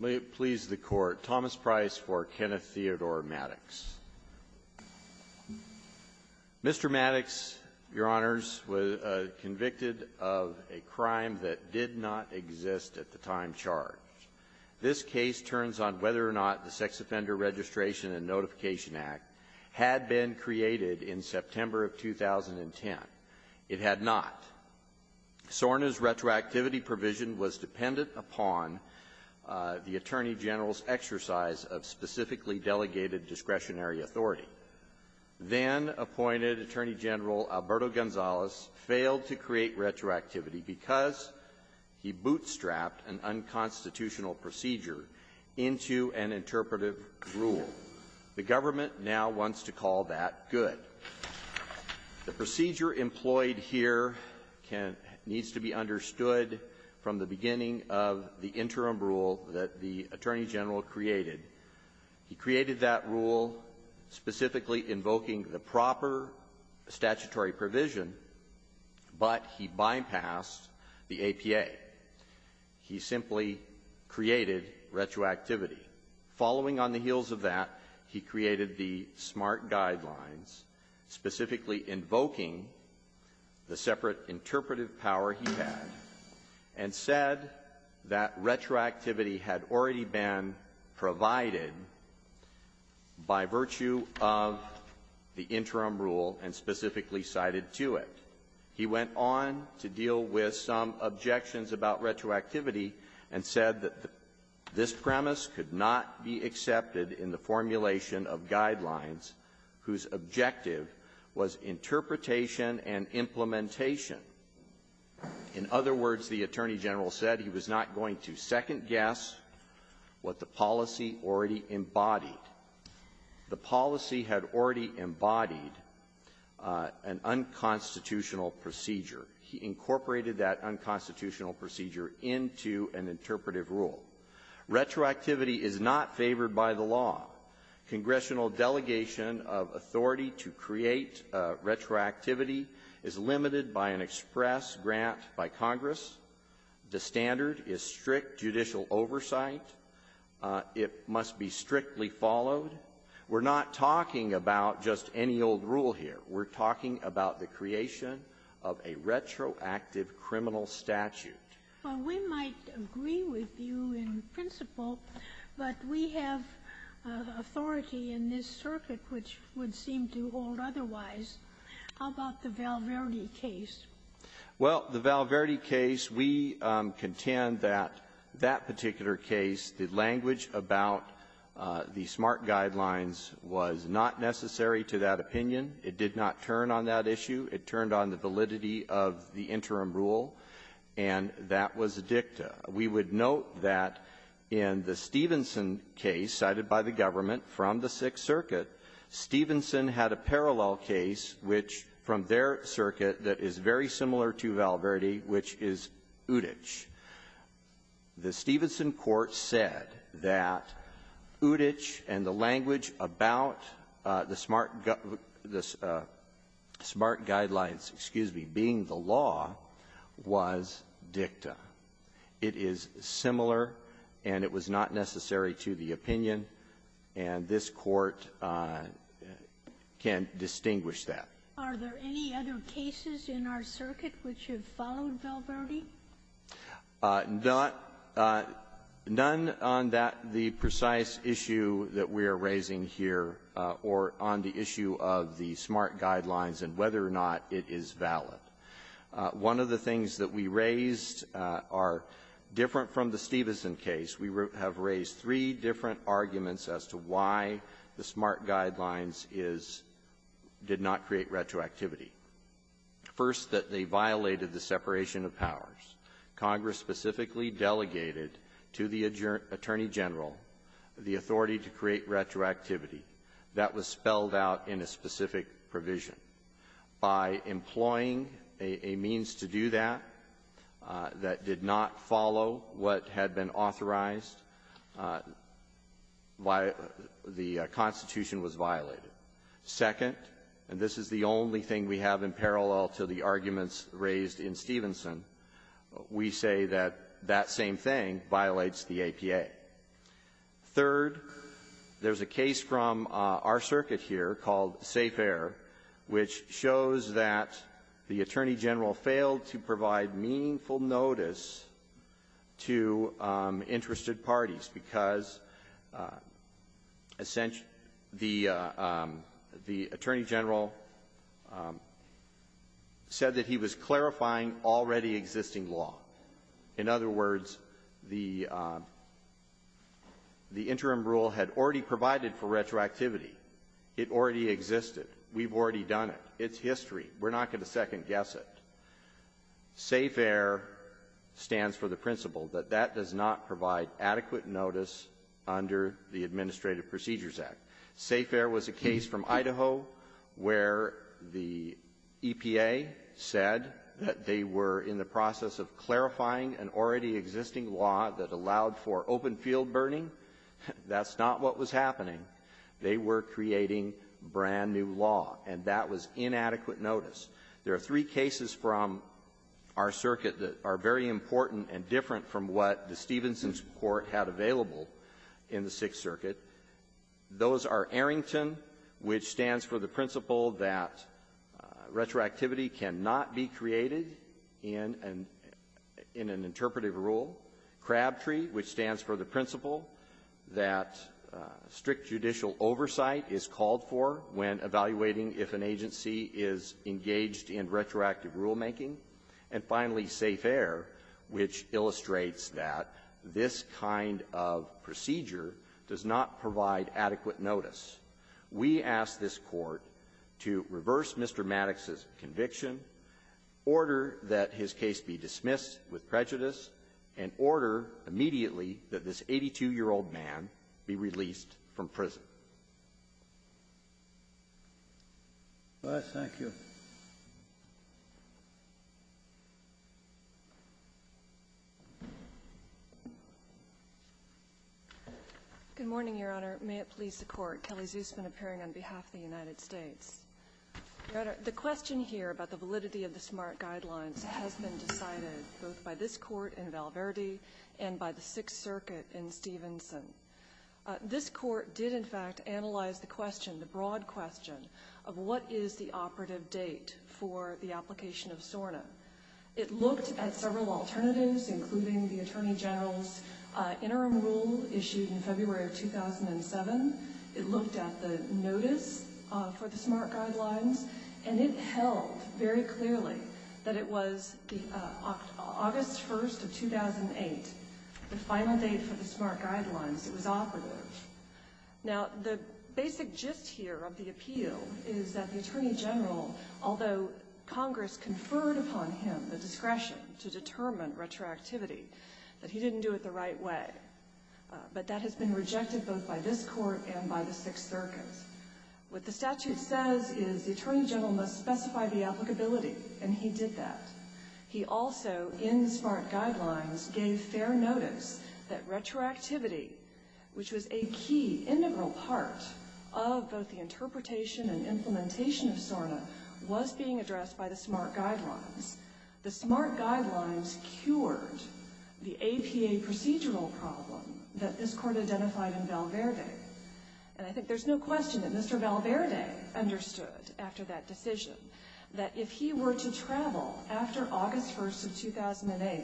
May it please the Court. Thomas Price for Kenneth Theodore Mattix. Mr. Mattix, Your Honors, was convicted of a crime that did not exist at the time charged. This case turns on whether or not the Sex Offender Registration and Notification Act had been created in September of 2010. It had not. SORNA's retroactivity provision was dependent upon the Attorney General's exercise of specifically delegated discretionary authority. Then-appointed Attorney General Alberto Gonzalez failed to create retroactivity because he bootstrapped an unconstitutional procedure into an interpretive rule. The government now wants to call that good. The procedure employed here can needs to be understood from the beginning of the interim rule that the Attorney General created. He created that rule specifically invoking the proper statutory provision, but he bypassed the APA. He simply created retroactivity. Following on the heels of that, he created the SMART Guidelines, specifically invoking the separate interpretive power he had, and said that retroactivity had already been provided by virtue of the interim rule and specifically cited to it. He went on to deal with some objections about retroactivity and said that this premise could not be accepted in the formulation of Guidelines whose objective was interpretation and implementation. In other words, the Attorney General said he was not going to second guess what the policy already embodied. The policy had already embodied an unconstitutional procedure. He incorporated that unconstitutional procedure into an interpretive rule. Retroactivity is not favored by the law. Congressional delegation of authority to create retroactivity is limited by an express grant by Congress. The standard is strict judicial oversight. It must be strictly followed. We're not talking about just any old rule here. We're talking about the creation of a retroactive criminal statute. Well, we might agree with you in principle, but we have authority in this circuit which would seem to hold otherwise. How about the Val Verde case? Well, the Val Verde case, we contend that that particular case, the language about the SMART Guidelines was not necessary to that opinion. It did not turn on that issue. It turned on the validity of the interim rule, and that was dicta. We would note that in the Stevenson case cited by the government from the Sixth Circuit, Stevenson had a parallel case which, from their circuit, that is very similar to Val Verde, which is Uditch. The Stevenson court said that Uditch and the language about the SMART Guidelines, excuse me, being the law, was dicta. It is similar, and it was not necessary to the opinion, and this Court can distinguish that. Are there any other cases in our circuit which have followed Val Verde? None on that, the precise issue that we are raising here, or on the issue of the SMART Guidelines and whether or not it is valid. One of the things that we raised are different from the Stevenson case. We have raised three different arguments as to why the SMART Guidelines is did not create retroactivity. First, that they violated the separation of powers. Congress specifically delegated to the attorney general the authority to create retroactivity. That was spelled out in a specific provision. By employing a means to do that, that did not follow what had been authorized, the Constitution was violated. Second, and this is the only thing we have in parallel to the arguments raised in Stevenson, we say that that same thing violates the APA. Third, there's a case from our circuit here called Safer, which shows that the attorney general failed to provide meaningful notice to interested parties, because the attorney general said that he was clarifying already existing law. In other words, the interim rule had already provided for retroactivity. It already existed. We've already done it. It's history. We're not going to second-guess it. Safer stands for the principle that that does not provide adequate notice under the Administrative Procedures Act. Safer was a case from Idaho where the EPA said that they were in the process of clarifying an already existing law that allowed for open-field burning. That's not what was happening. They were creating brand-new law, and that was inadequate notice. There are three cases from our circuit that are very important and different from what the Stevenson court had available in the Sixth Circuit. Those are Arrington, which stands for the principle that retroactivity cannot be created in an interpretive rule. Crabtree, which stands for the principle that strict judicial oversight is called for when evaluating if an agency is engaged in retroactive rulemaking. And finally, Safer, which illustrates that this kind of procedure does not provide adequate notice, we ask this Court to reverse Mr. Maddox's conviction, order that his case be dismissed with prejudice, and order immediately that this 82-year-old Good morning, Your Honor. May it please the Court. Kelly Zusman appearing on behalf of the United States. Your Honor, the question here about the validity of the SMART Guidelines has been decided both by this Court in Val Verde and by the Sixth Circuit in Stevenson. This Court did, in fact, analyze the question, the broad question, of what is the operative date for the application of SORNA. It looked at several alternatives, including the Attorney General's interim rule issued in February of 2007. It looked at the notice for the SMART Guidelines, and it held very clearly that it was August 1st of 2008, the final date for the SMART Guidelines. It was operative. Now, the basic gist here of the appeal is that the Attorney General, although Congress conferred upon him the discretion to determine retroactivity, that he didn't do it the right way. But that has been rejected both by this Court and by the Sixth Circuit. What the statute says is the Attorney General must specify the applicability, and he did that. He also, in the SMART Guidelines, gave fair notice that retroactivity, which was a key, integral part of both the interpretation and implementation of SORNA, was being addressed by the SMART Guidelines. The SMART Guidelines cured the APA procedural problem that this Court identified in Val Verde. And I think there's no question that Mr. Val Verde understood, after that decision, that if he were to travel after August 1st of 2008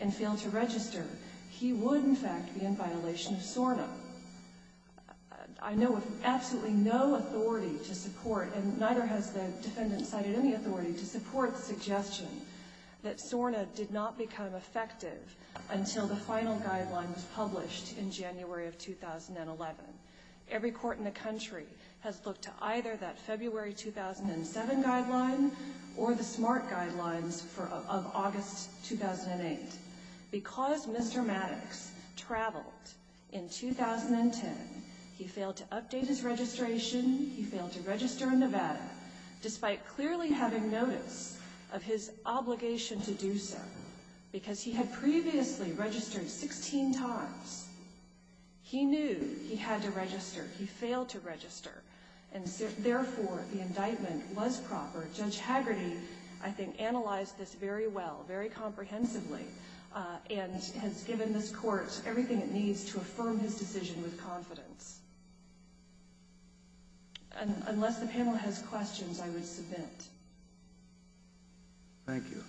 and fail to register, he would, in fact, be in violation of SORNA. I know of absolutely no authority to support, and neither has the defendant cited any authority to support the suggestion, that SORNA did not become effective until the final guideline was published in January of 2011. Every court in the country has looked to either that February 2007 guideline or the SMART Guidelines of August 2008. Because Mr. Maddox traveled in 2010, he failed to update his registration, he failed to register in Nevada, despite clearly having notice of his obligation to do so, because he had previously registered 16 times. He knew he had to register. He failed to register. And therefore, the indictment was proper. Judge Hagerty, I think, analyzed this very well, very comprehensively, and has given this Court everything it needs to affirm his decision with confidence. Unless the panel has questions, I would submit. Thank you.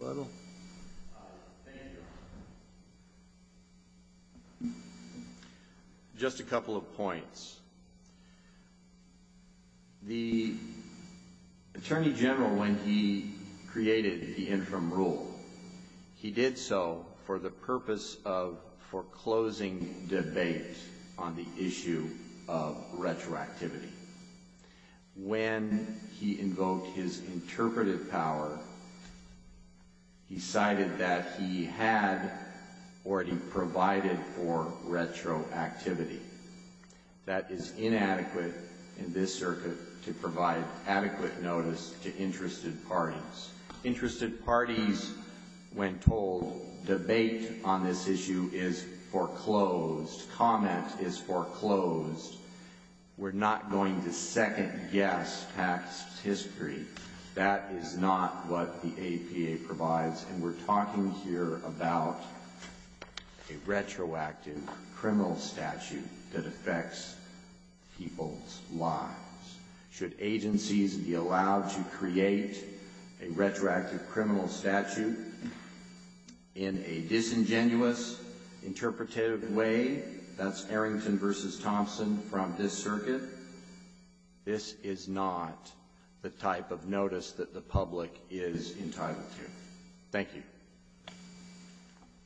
Rebuttal? Thank you, Your Honor. Just a couple of points. The Attorney General, when he created the infirm rule, he did so for the purpose of foreclosing debate on the issue of retroactivity. When he invoked his interpretive power, he cited that he had already provided for retroactivity. That is inadequate in this circuit to provide adequate notice to interested parties. Interested parties, when told, debate on this issue is foreclosed. Comment is foreclosed. We're not going to second-guess PACS's history. That is not what the APA provides, and we're talking here about a retroactive criminal statute that affects people's lives. Should agencies be allowed to create a retroactive criminal statute in a from this circuit, this is not the type of notice that the public is entitled to. Thank you.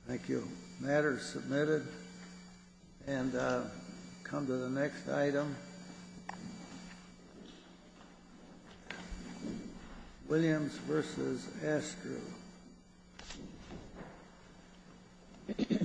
Thank you. Matter submitted. And come to the next item. Williams v. Astro.